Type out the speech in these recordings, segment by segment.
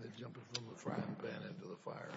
They're jumping from the frying pan into the fire.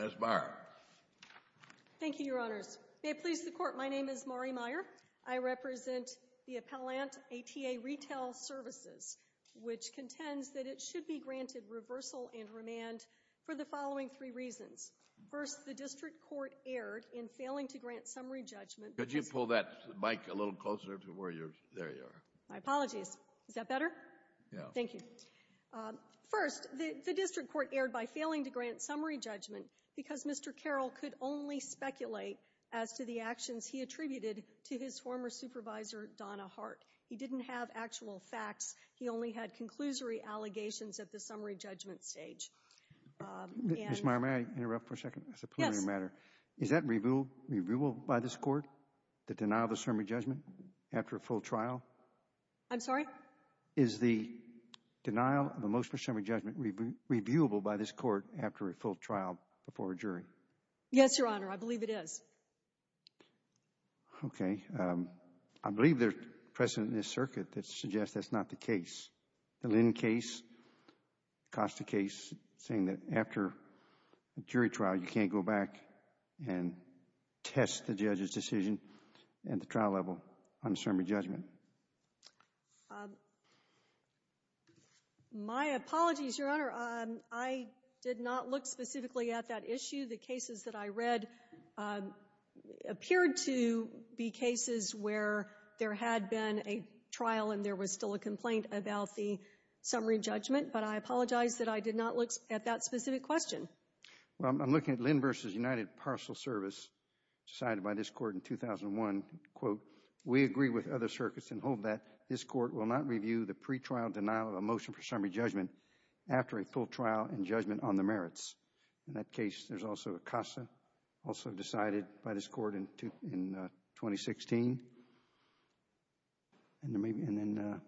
Ms. Meyer. Thank you, Your Honors. May it please the Court, my name is Mari Meyer. I represent the appellant, ATA Retail Services, which contends that it should be granted reversal and remand for the following three reasons. First, the district court erred in failing to grant summary judgment. Could you pull that mic a little closer to where you're – there you are. My apologies. Is that better? Yeah. Thank you. First, the district court erred by failing to grant summary judgment because Mr. Carroll could only speculate as to the actions he attributed to his former supervisor, Donna Hart. He didn't have actual facts. He only had conclusory allegations at the summary judgment stage. Ms. Meyer, may I interrupt for a second? Yes. Is that reviewable by this Court, the denial of the summary judgment after a full trial? I'm sorry? Is the denial of a motion for summary judgment reviewable by this Court after a full trial before a jury? Yes, Your Honor, I believe it is. Okay. I believe there's precedent in this circuit that suggests that's not the case. The Lynn case, Acosta case, saying that after a jury trial you can't go back and test the judge's decision at the trial level on the summary judgment. My apologies, Your Honor. I did not look specifically at that issue. The cases that I read appeared to be cases where there had been a trial and there was still a complaint about the summary judgment. But I apologize that I did not look at that specific question. Well, I'm looking at Lynn v. United Parcel Service, decided by this Court in 2001. Quote, we agree with other circuits and hold that this Court will not review the pretrial denial of a motion for summary judgment after a full trial and judgment on the merits. In that case, there's also Acosta, also decided by this Court in 2016. And then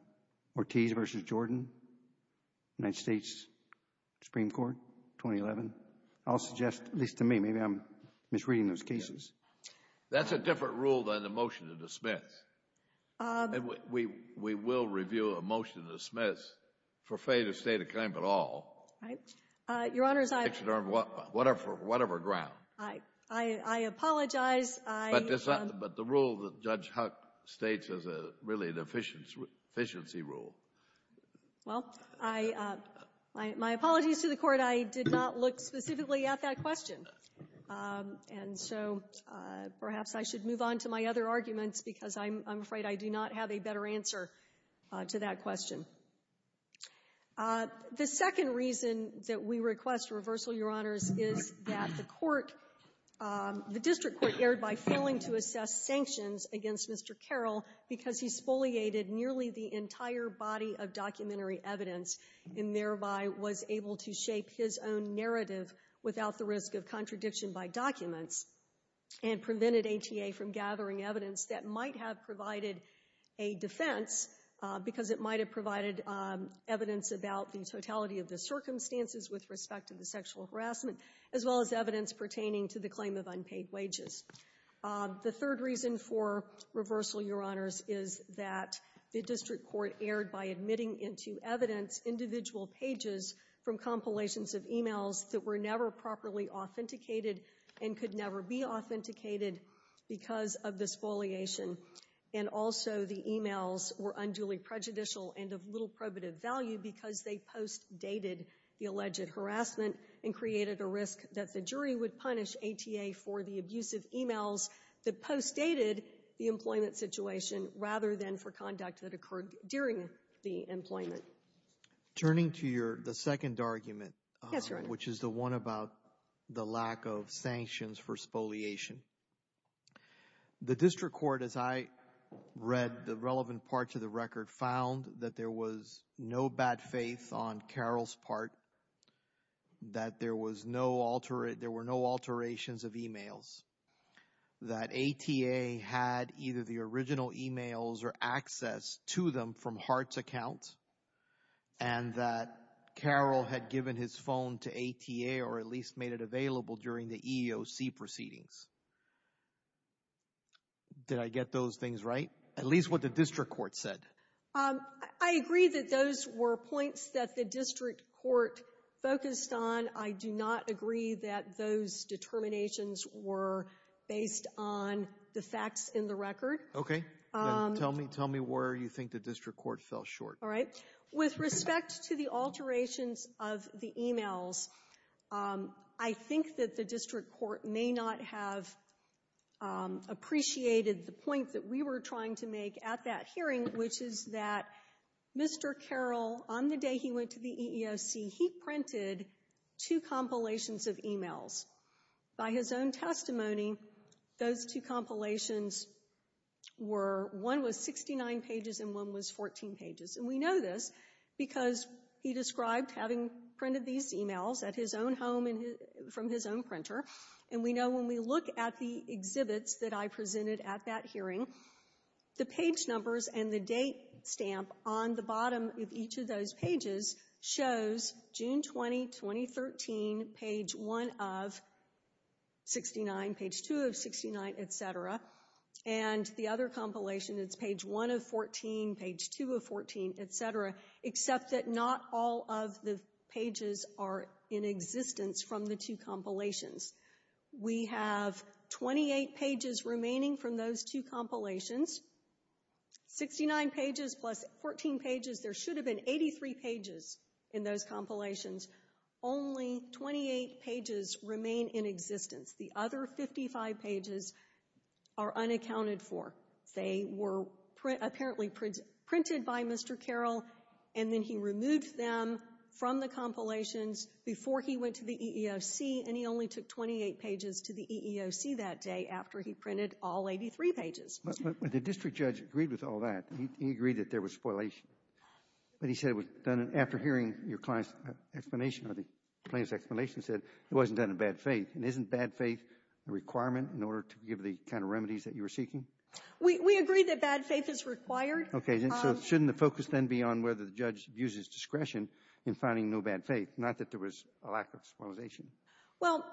Ortiz v. Jordan, United States Supreme Court, 2011. I'll suggest, at least to me, maybe I'm misreading those cases. That's a different rule than the motion to dismiss. We will review a motion to dismiss for failure to state a claim at all. Your Honor, I apologize. But the rule that Judge Huck states is really an efficiency rule. Well, my apologies to the Court. I did not look specifically at that question. And so perhaps I should move on to my other arguments because I'm afraid I do not have a better answer to that question. The second reason that we request reversal, Your Honors, is that the Court, the district court erred by failing to assess sanctions against Mr. Carroll because he spoliated nearly the entire body of documentary evidence and thereby was able to shape his own narrative without the risk of contradiction by documents and prevented ATA from gathering evidence that might have provided a defense because it might have provided evidence about the totality of the circumstances with respect to the sexual harassment, as well as evidence pertaining to the claim of unpaid wages. The third reason for reversal, Your Honors, is that the district court erred by admitting into evidence individual pages from compilations of e-mails that were never properly authenticated and could never be authenticated because of the spoliation. And also the e-mails were unduly prejudicial and of little probative value because they post-dated the alleged harassment and created a risk that the jury would punish ATA for the abusive e-mails that post-dated the employment situation rather than for conduct that occurred during the employment. Turning to the second argument, which is the one about the lack of sanctions for spoliation, the district court, as I read the relevant parts of the record, found that there was no bad faith on Carroll's part, that there were no alterations of e-mails, that ATA had either the original e-mails or access to them from Hart's account, and that Carroll had given his phone to ATA or at least made it available during the EEOC proceedings. Did I get those things right? At least what the district court said. I agree that those were points that the district court focused on. I do not agree that those Tell me where you think the district court fell short. All right. With respect to the alterations of the e-mails, I think that the district court may not have appreciated the point that we were trying to make at that hearing, which is that Mr. Carroll, on the day he went to the EEOC, he printed two compilations of e-mails. By his own testimony, those two compilations were, one was 69 pages and one was 14 pages, and we know this because he described having printed these e-mails at his own home from his own printer, and we know when we look at the exhibits that I presented at that hearing, the page numbers and the date stamp on the bottom of each of those pages shows June 20, 2013, page 1 of 69, page 2 of 69, et cetera. And the other compilation, it's page 1 of 14, page 2 of 14, et cetera, except that not all of the pages are in existence from the two compilations. We have 28 pages remaining from those two compilations. 69 pages plus 14 pages, there should have been 83 pages in those compilations. Only 28 pages remain in existence. The other 55 pages are unaccounted for. They were apparently printed by Mr. Carroll, and then he removed them from the compilations before he went to the EEOC, and he only took 28 pages to the EEOC that day after he printed all 83 pages. But the district judge agreed with all that. He agreed that there was spoilation. But he said it was done after hearing your client's explanation or the plaintiff's explanation said it wasn't done in bad faith, and isn't bad faith a requirement in order to give the kind of remedies that you were seeking? We agree that bad faith is required. Okay. So shouldn't the focus then be on whether the judge views his discretion in finding no bad faith, not that there was a lack of spoilization? Well,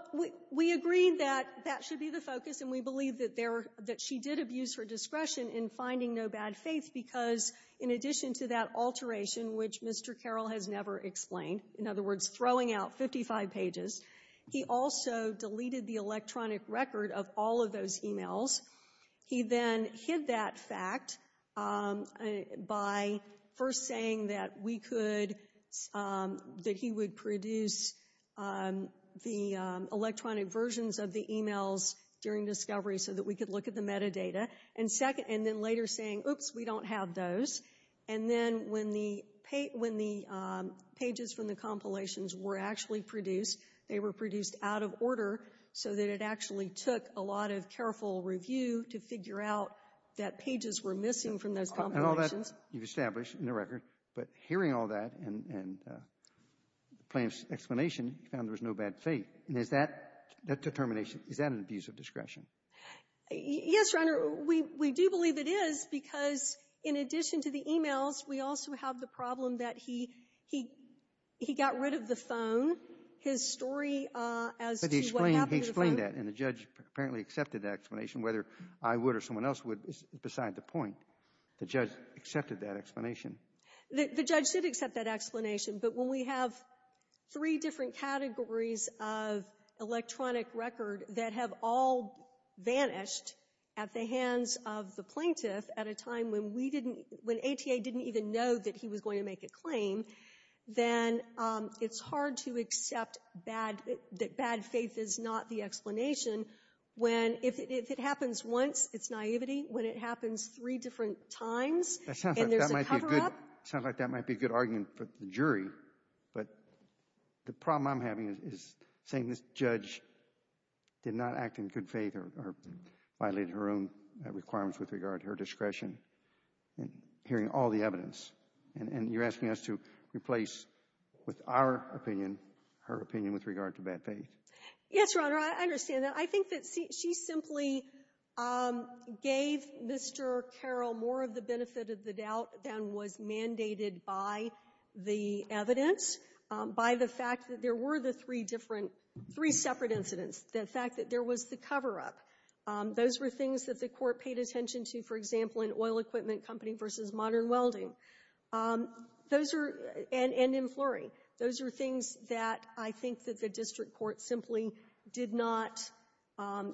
we agreed that that should be the focus, and we believe that she did abuse her discretion in finding no bad faith because, in addition to that alteration, which Mr. Carroll has never explained, in other words, throwing out 55 pages, he also deleted the electronic record of all of those e-mails. He then hid that fact by first saying that he would produce the electronic versions of the e-mails during discovery so that we could look at the metadata, and then later saying, oops, we don't have those. And then when the pages from the compilations were actually produced, they were produced out of order so that it actually took a lot of careful review to figure out that pages were missing from those compilations. And all that you've established in the record, but hearing all that and the plaintiff's explanation, he found there was no bad faith. And is that determination, is that an abuse of discretion? Yes, Your Honor. We do believe it is because, in addition to the e-mails, we also have the problem that he got rid of the phone, his story as to what happened to the phone. But he explained that, and the judge apparently accepted that explanation, whether I would or someone else would is beside the point. The judge accepted that explanation. The judge did accept that explanation, but when we have three different categories of electronic record that have all vanished at the hands of the plaintiff at a time when we didn't, when ATA didn't even know that he was going to make a claim, then it's hard to accept bad, that bad faith is not the explanation when, if it happens once, it's naivety. When it happens three different times and there's a cover-up. It sounds like that might be a good argument for the jury. But the problem I'm having is saying this judge did not act in good faith or violated her own requirements with regard to her discretion in hearing all the evidence. And you're asking us to replace, with our opinion, her opinion with regard to bad faith. Yes, Your Honor. I understand that. I think that she simply gave Mr. Carroll more of the benefit of the doubt than was mandated by the evidence, by the fact that there were the three different three separate incidents. The fact that there was the cover-up. Those were things that the court paid attention to, for example, in oil equipment company versus modern welding. Those are, and in Fleury, those are things that I think that the district court simply did not,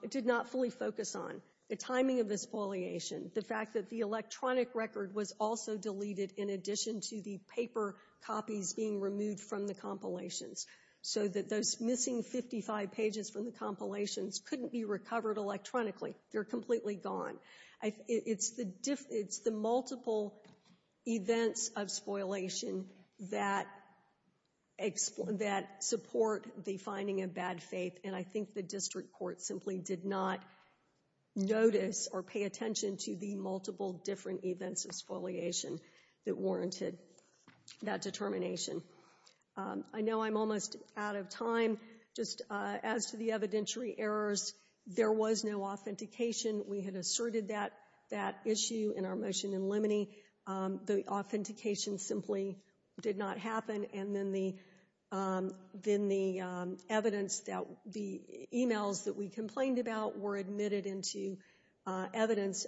did not fully focus on. The timing of the spoliation. The fact that the electronic record was also deleted in addition to the paper copies being removed from the compilations. So that those missing 55 pages from the compilations couldn't be recovered electronically. They're completely gone. It's the multiple events of spoliation that support the finding of bad faith. And I think the district court simply did not notice or pay attention to the multiple different events of spoliation that warranted that determination. I know I'm almost out of time. Just as to the evidentiary errors, there was no authentication. We had asserted that issue in our motion in Liminey. The authentication simply did not happen. And then the evidence that the e-mails that we complained about were admitted into evidence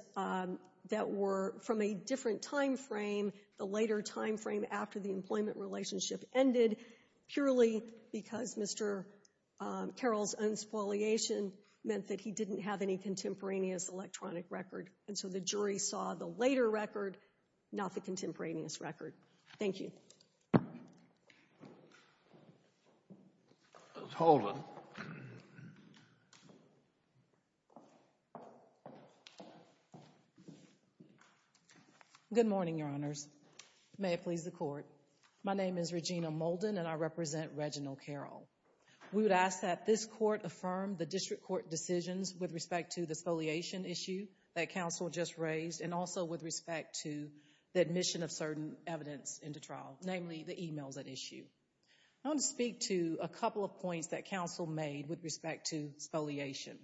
that were from a different time frame, the later time frame after the employment relationship ended, purely because Mr. Carroll's own spoliation meant that he didn't have any contemporaneous electronic record. And so the jury saw the later record, not the contemporaneous record. Thank you. Holden. Good morning, Your Honors. May it please the court. My name is Regina Molden, and I represent Reginald Carroll. We would ask that this court affirm the district court decisions with respect to the spoliation issue that counsel just raised and also with respect to the admission of certain evidence into trial, namely the e-mails at issue. I want to speak to a couple of points that counsel made with respect to spoliation.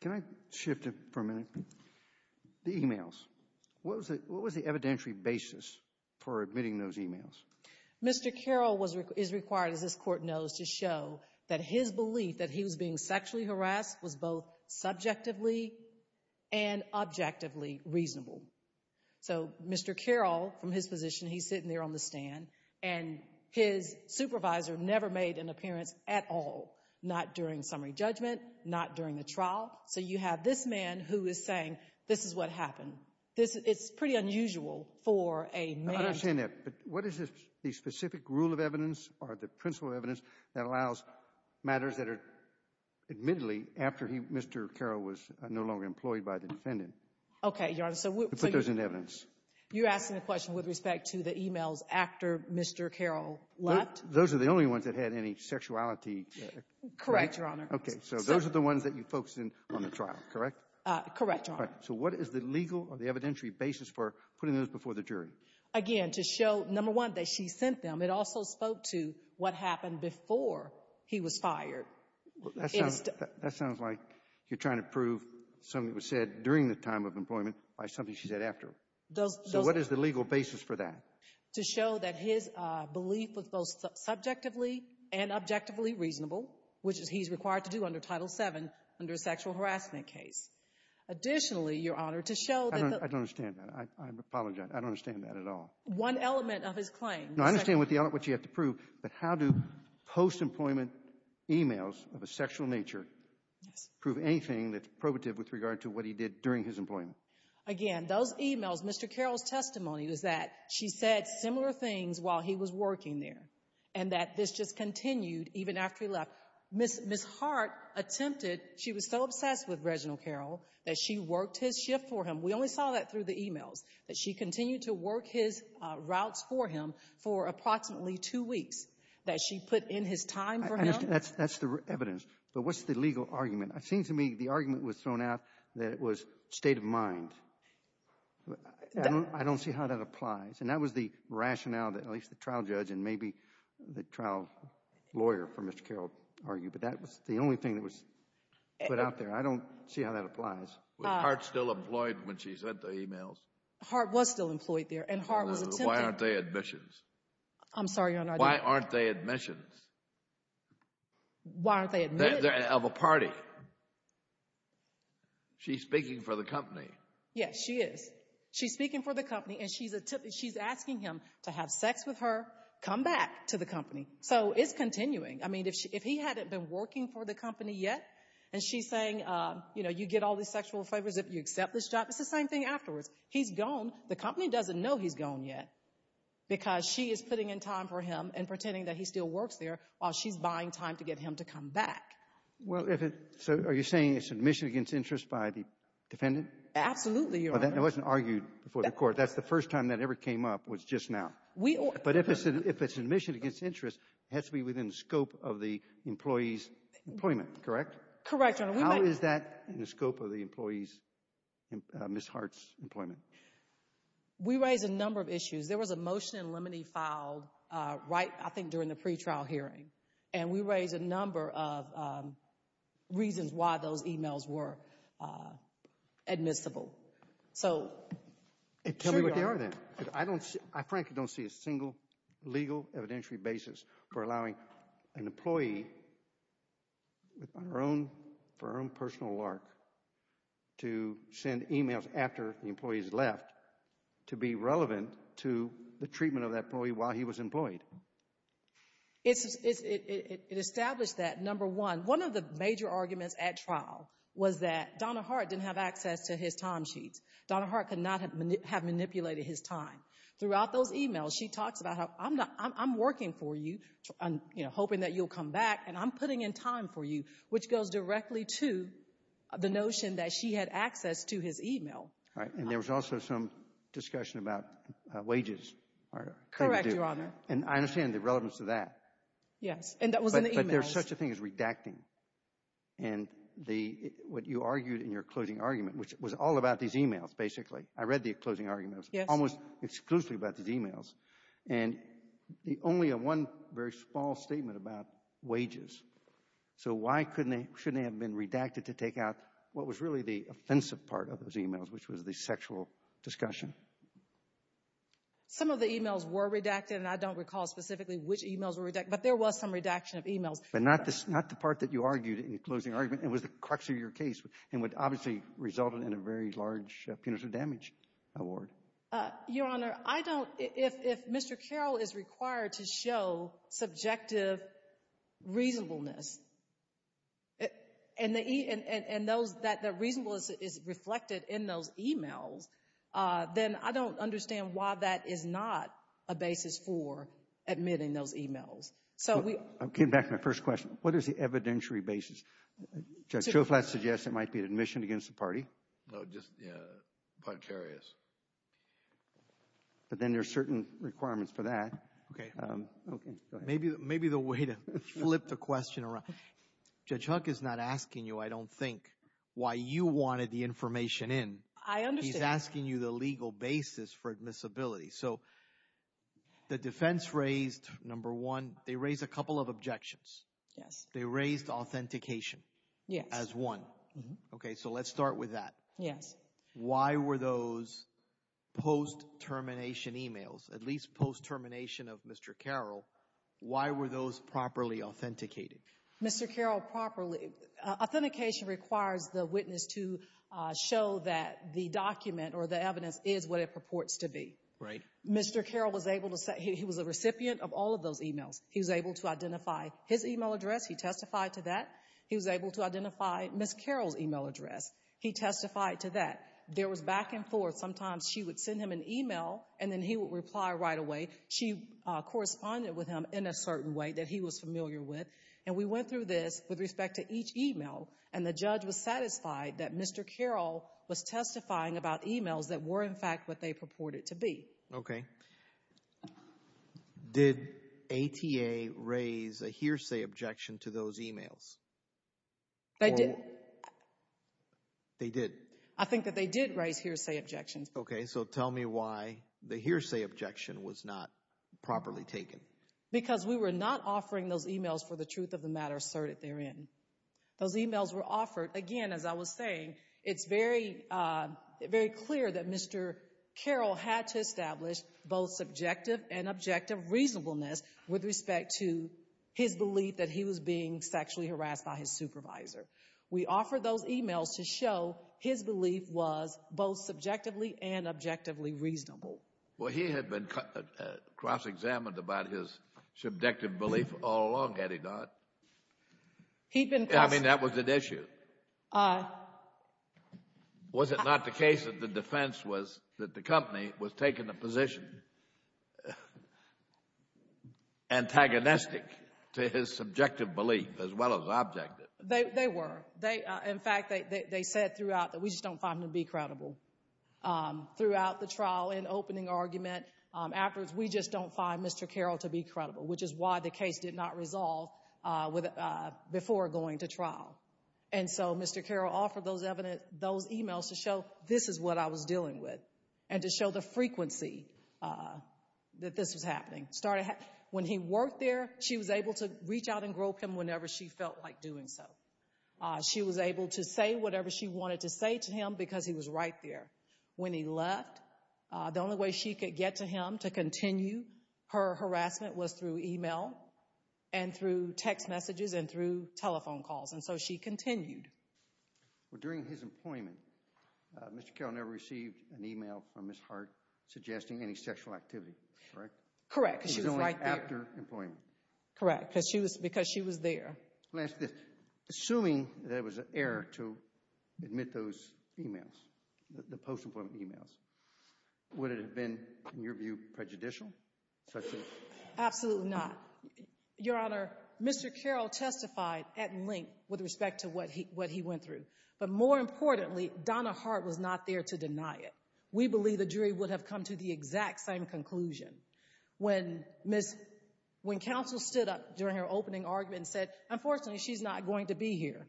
Can I shift it for a minute? The e-mails. What was the evidentiary basis for admitting those e-mails? Mr. Carroll is required, as this court knows, to show that his belief that he was being sexually harassed was both subjectively and objectively reasonable. So Mr. Carroll, from his position, he's sitting there on the stand, and his supervisor never made an appearance at all, not during summary judgment, not during the trial. So you have this man who is saying, this is what happened. It's pretty unusual for a man. I understand that. But what is the specific rule of evidence or the principle of evidence that allows matters that are admittedly after Mr. Carroll was no longer employed by the defendant to put those into evidence? You're asking a question with respect to the e-mails after Mr. Carroll left? Those are the only ones that had any sexuality. Correct, Your Honor. Okay, so those are the ones that you focused on in the trial, correct? Correct, Your Honor. So what is the legal or the evidentiary basis for putting those before the jury? Again, to show, number one, that she sent them. It also spoke to what happened before he was fired. That sounds like you're trying to prove something that was said during the time of employment by something she said after. So what is the legal basis for that? To show that his belief was both subjectively and objectively reasonable, which he's required to do under Title VII under a sexual harassment case. Additionally, Your Honor, to show that the ---- I don't understand that. I apologize. I don't understand that at all. One element of his claim. No, I understand what you have to prove. But how do post-employment e-mails of a sexual nature prove anything that's probative with regard to what he did during his employment? Again, those e-mails, Mr. Carroll's testimony was that she said similar things while he was working there and that this just continued even after he left. Ms. Hart attempted, she was so obsessed with Reginald Carroll that she worked his shift for him. We only saw that through the e-mails, that she continued to work his routes for him for approximately two weeks, that she put in his time for him. That's the evidence. But what's the legal argument? It seems to me the argument was thrown out that it was state of mind. I don't see how that applies. And that was the rationale that at least the trial judge and maybe the trial lawyer for Mr. Carroll argued. But that was the only thing that was put out there. I don't see how that applies. Was Hart still employed when she sent the e-mails? Hart was still employed there and Hart was attempting. Why aren't they admissions? I'm sorry, Your Honor. Why aren't they admissions? Why aren't they admitted? Of a party. She's speaking for the company. Yes, she is. She's speaking for the company and she's asking him to have sex with her, come back to the company. So it's continuing. I mean, if he hadn't been working for the company yet and she's saying, you know, you get all these sexual favors if you accept this job, it's the same thing afterwards. He's gone. The company doesn't know he's gone yet because she is putting in time for him and pretending that he still works there while she's buying time to get him So are you saying it's admission against interest by the defendant? Absolutely, Your Honor. It wasn't argued before the court. That's the first time that ever came up was just now. But if it's admission against interest, it has to be within the scope of the employee's employment, correct? Correct, Your Honor. How is that in the scope of the employee's, Ms. Hart's, employment? We raised a number of issues. There was a motion in limine filed right, I think, during the pretrial hearing, and we raised a number of reasons why those emails were admissible. So, sure, Your Honor. Tell me what they are then. I frankly don't see a single legal evidentiary basis for allowing an employee with her own firm personal lark to send emails after the employee's left to be relevant to the treatment of that employee while he was employed. It established that, number one, one of the major arguments at trial was that Donna Hart didn't have access to his time sheets. Donna Hart could not have manipulated his time. Throughout those emails, she talks about how, I'm working for you, hoping that you'll come back, and I'm putting in time for you, which goes directly to the notion that she had access to his email. Correct, Your Honor. And I understand the relevance to that. Yes, and that was in the emails. But there's such a thing as redacting, and what you argued in your closing argument, which was all about these emails, basically. I read the closing argument. Yes. It was almost exclusively about these emails, and only one very small statement about wages. So why shouldn't they have been redacted to take out what was really the offensive part of those emails, which was the sexual discussion? Some of the emails were redacted, and I don't recall specifically which emails were redacted, but there was some redaction of emails. But not the part that you argued in your closing argument. It was the crux of your case, and would obviously result in a very large punitive damage award. Your Honor, I don't – if Mr. Carroll is required to show subjective reasonableness, and the reasonableness is reflected in those emails, then I don't understand why that is not a basis for admitting those emails. I'm getting back to my first question. What is the evidentiary basis? Judge Schoflat suggests it might be admission against the party. No, just the punitive areas. But then there are certain requirements for that. Okay. Okay, go ahead. Maybe the way to flip the question around. Judge Huck is not asking you, I don't think, why you wanted the information in. I understand. He's asking you the legal basis for admissibility. So the defense raised, number one, they raised a couple of objections. Yes. They raised authentication as one. Yes. Okay, so let's start with that. Yes. Why were those post-termination emails, at least post-termination of Mr. Carroll, why were those properly authenticated? Mr. Carroll properly, authentication requires the witness to show that the document or the evidence is what it purports to be. Right. Mr. Carroll was able to say he was a recipient of all of those emails. He was able to identify his email address. He testified to that. He was able to identify Ms. Carroll's email address. He testified to that. There was back and forth. Sometimes she would send him an email, and then he would reply right away. She corresponded with him in a certain way that he was familiar with, and we went through this with respect to each email, and the judge was satisfied that Mr. Carroll was testifying about emails that were, in fact, what they purported to be. Okay. Did ATA raise a hearsay objection to those emails? They did. They did. I think that they did raise hearsay objections. Okay, so tell me why the hearsay objection was not properly taken. Because we were not offering those emails for the truth of the matter asserted therein. Those emails were offered, again, as I was saying, it's very clear that Mr. Carroll had to establish both subjective and objective reasonableness with respect to his belief that he was being sexually harassed by his supervisor. We offered those emails to show his belief was both subjectively and objectively reasonable. Well, he had been cross-examined about his subjective belief all along, had he not? I mean, that was an issue. Was it not the case that the defense was that the company was taking a position antagonistic to his subjective belief as well as objective? They were. In fact, they said throughout that we just don't find him to be credible. Throughout the trial, in opening argument, afterwards, we just don't find Mr. Carroll to be credible, which is why the case did not resolve before going to trial. And so Mr. Carroll offered those emails to show this is what I was dealing with and to show the frequency that this was happening. When he worked there, she was able to reach out and grope him whenever she felt like doing so. She was able to say whatever she wanted to say to him because he was right there. When he left, the only way she could get to him to continue her harassment was through email and through text messages and through telephone calls, and so she continued. Well, during his employment, Mr. Carroll never received an email from Ms. Hart suggesting any sexual activity, correct? Correct, because she was right there. It was only after employment. Correct, because she was there. Assuming there was an error to admit those emails, the post-employment emails, would it have been, in your view, prejudicial? Absolutely not. Your Honor, Mr. Carroll testified at length with respect to what he went through, but more importantly, Donna Hart was not there to deny it. We believe the jury would have come to the exact same conclusion. When counsel stood up during her opening argument and said, unfortunately, she's not going to be here.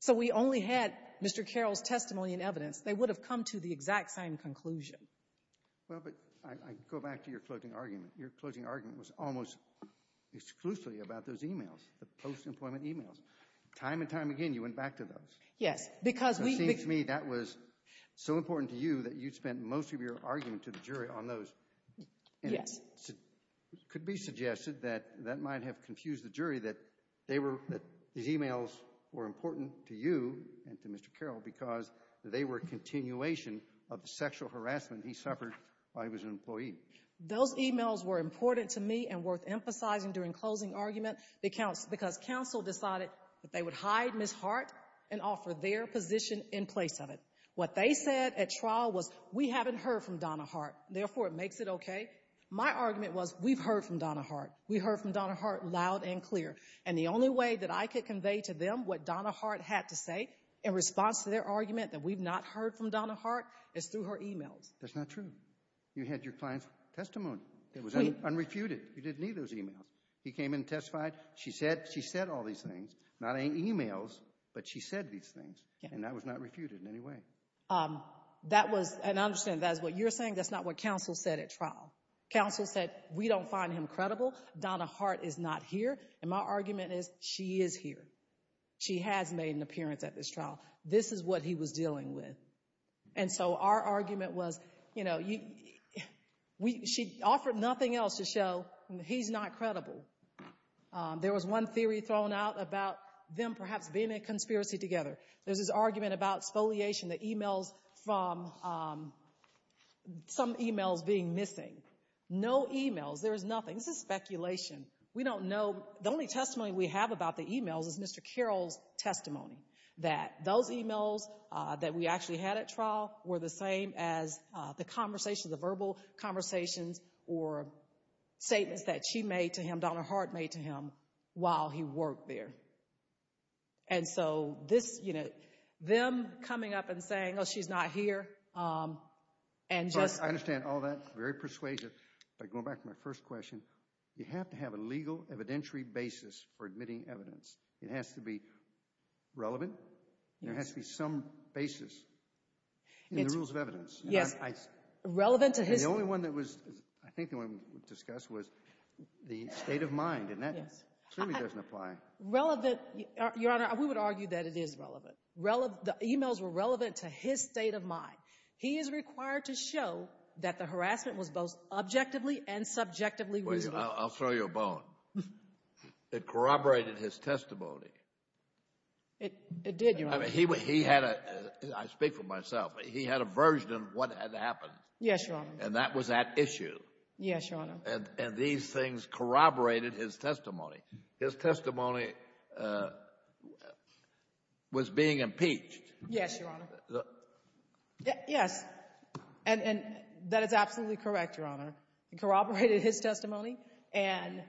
So we only had Mr. Carroll's testimony and evidence. They would have come to the exact same conclusion. Well, but I go back to your closing argument. Your closing argument was almost exclusively about those emails, the post-employment emails. Time and time again, you went back to those. Yes, because we It seems to me that was so important to you that you spent most of your argument to the jury on those. Yes. It could be suggested that that might have confused the jury, that these emails were important to you and to Mr. Carroll because they were a continuation of the sexual harassment he suffered while he was an employee. Those emails were important to me and worth emphasizing during closing argument because counsel decided that they would hide Ms. Hart and offer their position in place of it. What they said at trial was, we haven't heard from Donna Hart, therefore it makes it okay. My argument was, we've heard from Donna Hart. We heard from Donna Hart loud and clear. And the only way that I could convey to them what Donna Hart had to say in response to their argument that we've not heard from Donna Hart is through her emails. That's not true. You had your client's testimony. It was unrefuted. You didn't need those emails. He came in and testified. She said all these things. Not any emails, but she said these things. And that was not refuted in any way. That was, and I understand that's what you're saying. That's not what counsel said at trial. Counsel said, we don't find him credible. Donna Hart is not here. And my argument is, she is here. She has made an appearance at this trial. This is what he was dealing with. And so our argument was, you know, she offered nothing else to show he's not credible. There was one theory thrown out about them perhaps being in a conspiracy together. There's this argument about spoliation, the emails from some emails being missing. No emails. There was nothing. This is speculation. We don't know. The only testimony we have about the emails is Mr. Carroll's testimony, that those emails that we actually had at trial were the same as the conversations, the verbal conversations or statements that she made to him, Donna Hart made to him, while he worked there. And so this, you know, them coming up and saying, oh, she's not here, and just— I understand all that. Very persuasive. But going back to my first question, you have to have a legal evidentiary basis for admitting evidence. It has to be relevant. There has to be some basis in the rules of evidence. Yes. Relevant to his— And the only one that was—I think the one we discussed was the state of mind, and that clearly doesn't apply. Relevant—Your Honor, we would argue that it is relevant. The emails were relevant to his state of mind. He is required to show that the harassment was both objectively and subjectively reasonable. I'll throw you a bone. It corroborated his testimony. It did, Your Honor. I mean, he had a—I speak for myself. He had a version of what had happened. Yes, Your Honor. And that was at issue. Yes, Your Honor. And these things corroborated his testimony. His testimony was being impeached. Yes, Your Honor. Yes. And that is absolutely correct, Your Honor. It corroborated his testimony. And,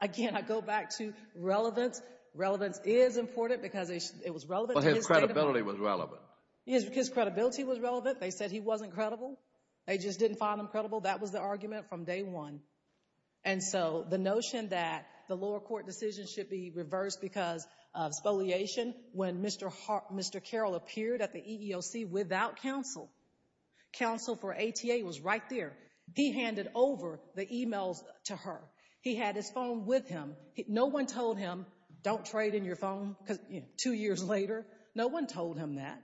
again, I go back to relevance. Relevance is important because it was relevant to his state of mind. But his credibility was relevant. His credibility was relevant. They said he wasn't credible. They just didn't find him credible. That was the argument from day one. And so the notion that the lower court decision should be reversed because of spoliation, when Mr. Carroll appeared at the EEOC without counsel, counsel for ATA was right there. He handed over the e-mails to her. He had his phone with him. No one told him, don't trade in your phone because, you know, two years later, no one told him that.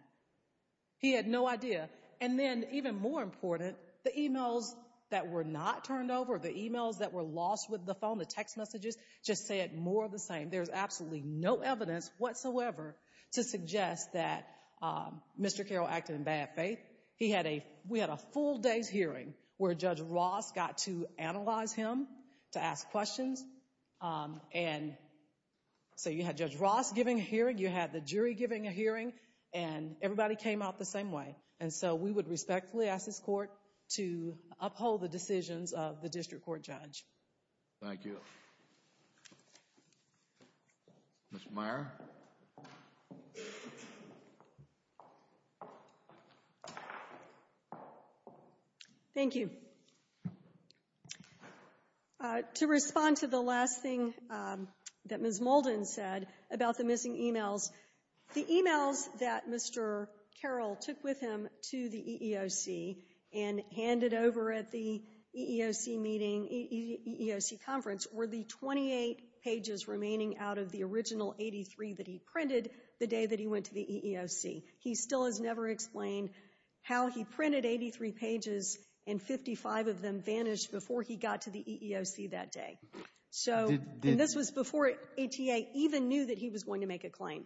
He had no idea. And then, even more important, the e-mails that were not turned over, the e-mails that were lost with the phone, the text messages, just said more of the same. There's absolutely no evidence whatsoever to suggest that Mr. Carroll acted in bad faith. We had a full day's hearing where Judge Ross got to analyze him, to ask questions. And so you had Judge Ross giving a hearing. You had the jury giving a hearing. And everybody came out the same way. And so we would respectfully ask this court to uphold the decisions of the district court judge. Thank you. Mr. Meyer. Thank you. To respond to the last thing that Ms. Molden said about the missing e-mails, the e-mails that Mr. Carroll took with him to the EEOC and handed over at the EEOC meeting, EEOC conference, were the 28 pages remaining out of the original 83 that he printed the day that he went to the EEOC. He still has never explained how he printed 83 pages and 55 of them vanished before he got to the EEOC that day. And this was before ATA even knew that he was going to make a claim.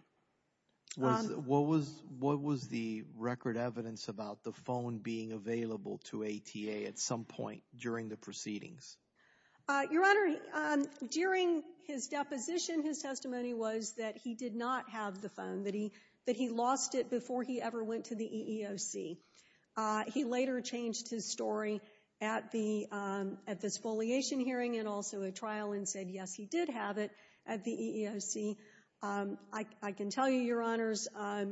What was the record evidence about the phone being available to ATA at some point during the proceedings? Your Honor, during his deposition, his testimony was that he did not have the phone, that he lost it before he ever went to the EEOC. He later changed his story at the exfoliation hearing and also at trial and said, yes, he did have it at the EEOC. I can tell you, Your Honors, I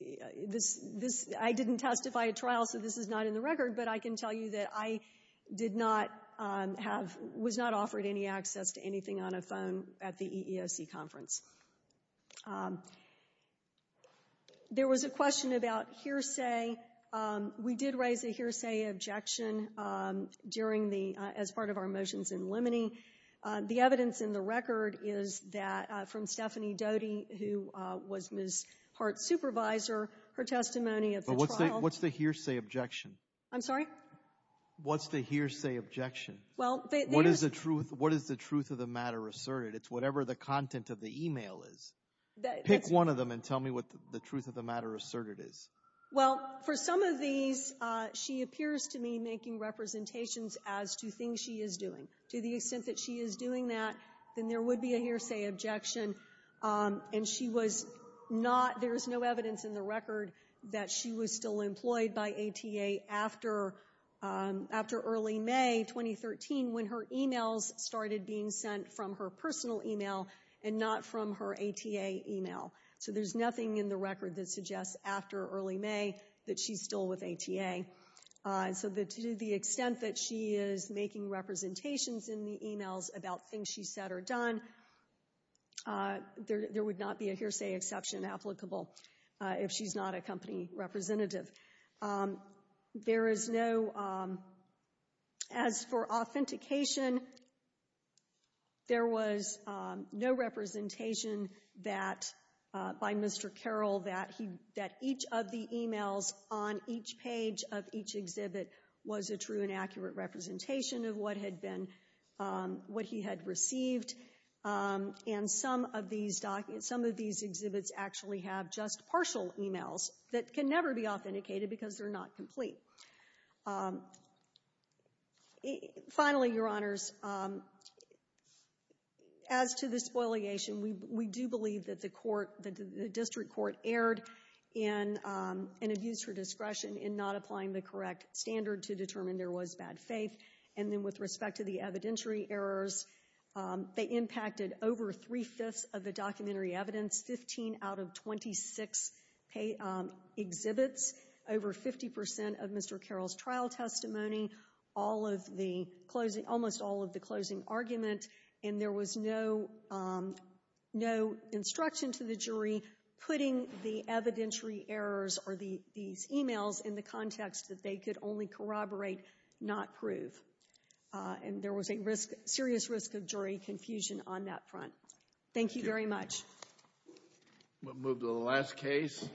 didn't testify at trial, so this is not in the record, but I can tell you that I was not offered any access to anything on a phone at the EEOC conference. There was a question about hearsay. We did raise a hearsay objection as part of our motions in limine. The evidence in the record is from Stephanie Doty, who was Ms. Hart's supervisor, her testimony at the trial. But what's the hearsay objection? I'm sorry? What's the hearsay objection? What is the truth of the matter asserted? It's whatever the content of the email is. Pick one of them and tell me what the truth of the matter asserted is. Well, for some of these, she appears to me making representations as to things she is doing. To the extent that she is doing that, then there would be a hearsay objection. And she was not – there is no evidence in the record that she was still employed by ATA after early May 2013 when her emails started being sent from her personal email and not from her ATA email. So there's nothing in the record that suggests after early May that she's still with ATA. So to the extent that she is making representations in the emails about things she said or done, there would not be a hearsay exception applicable if she's not a company representative. There is no – as for authentication, there was no representation that – by Mr. Carroll that he – that each of the emails on each page of each exhibit was a true and accurate representation of what had been – what he had received. And some of these – some of these exhibits actually have just partial emails that can never be authenticated because they're not complete. Finally, Your Honors, as to the spoliation, we do believe that the court – that the district court erred in an abuse for discretion in not applying the correct standard to determine there was bad faith. And then with respect to the evidentiary errors, they impacted over three-fifths of the documentary evidence, 15 out of 26 exhibits, over 50 percent of Mr. Carroll's trial testimony, all of the – almost all of the closing argument. And there was no instruction to the jury putting the evidentiary errors or these emails in the context that they could only corroborate, not prove. And there was a risk – serious risk of jury confusion on that front. Thank you very much. We'll move to the last case.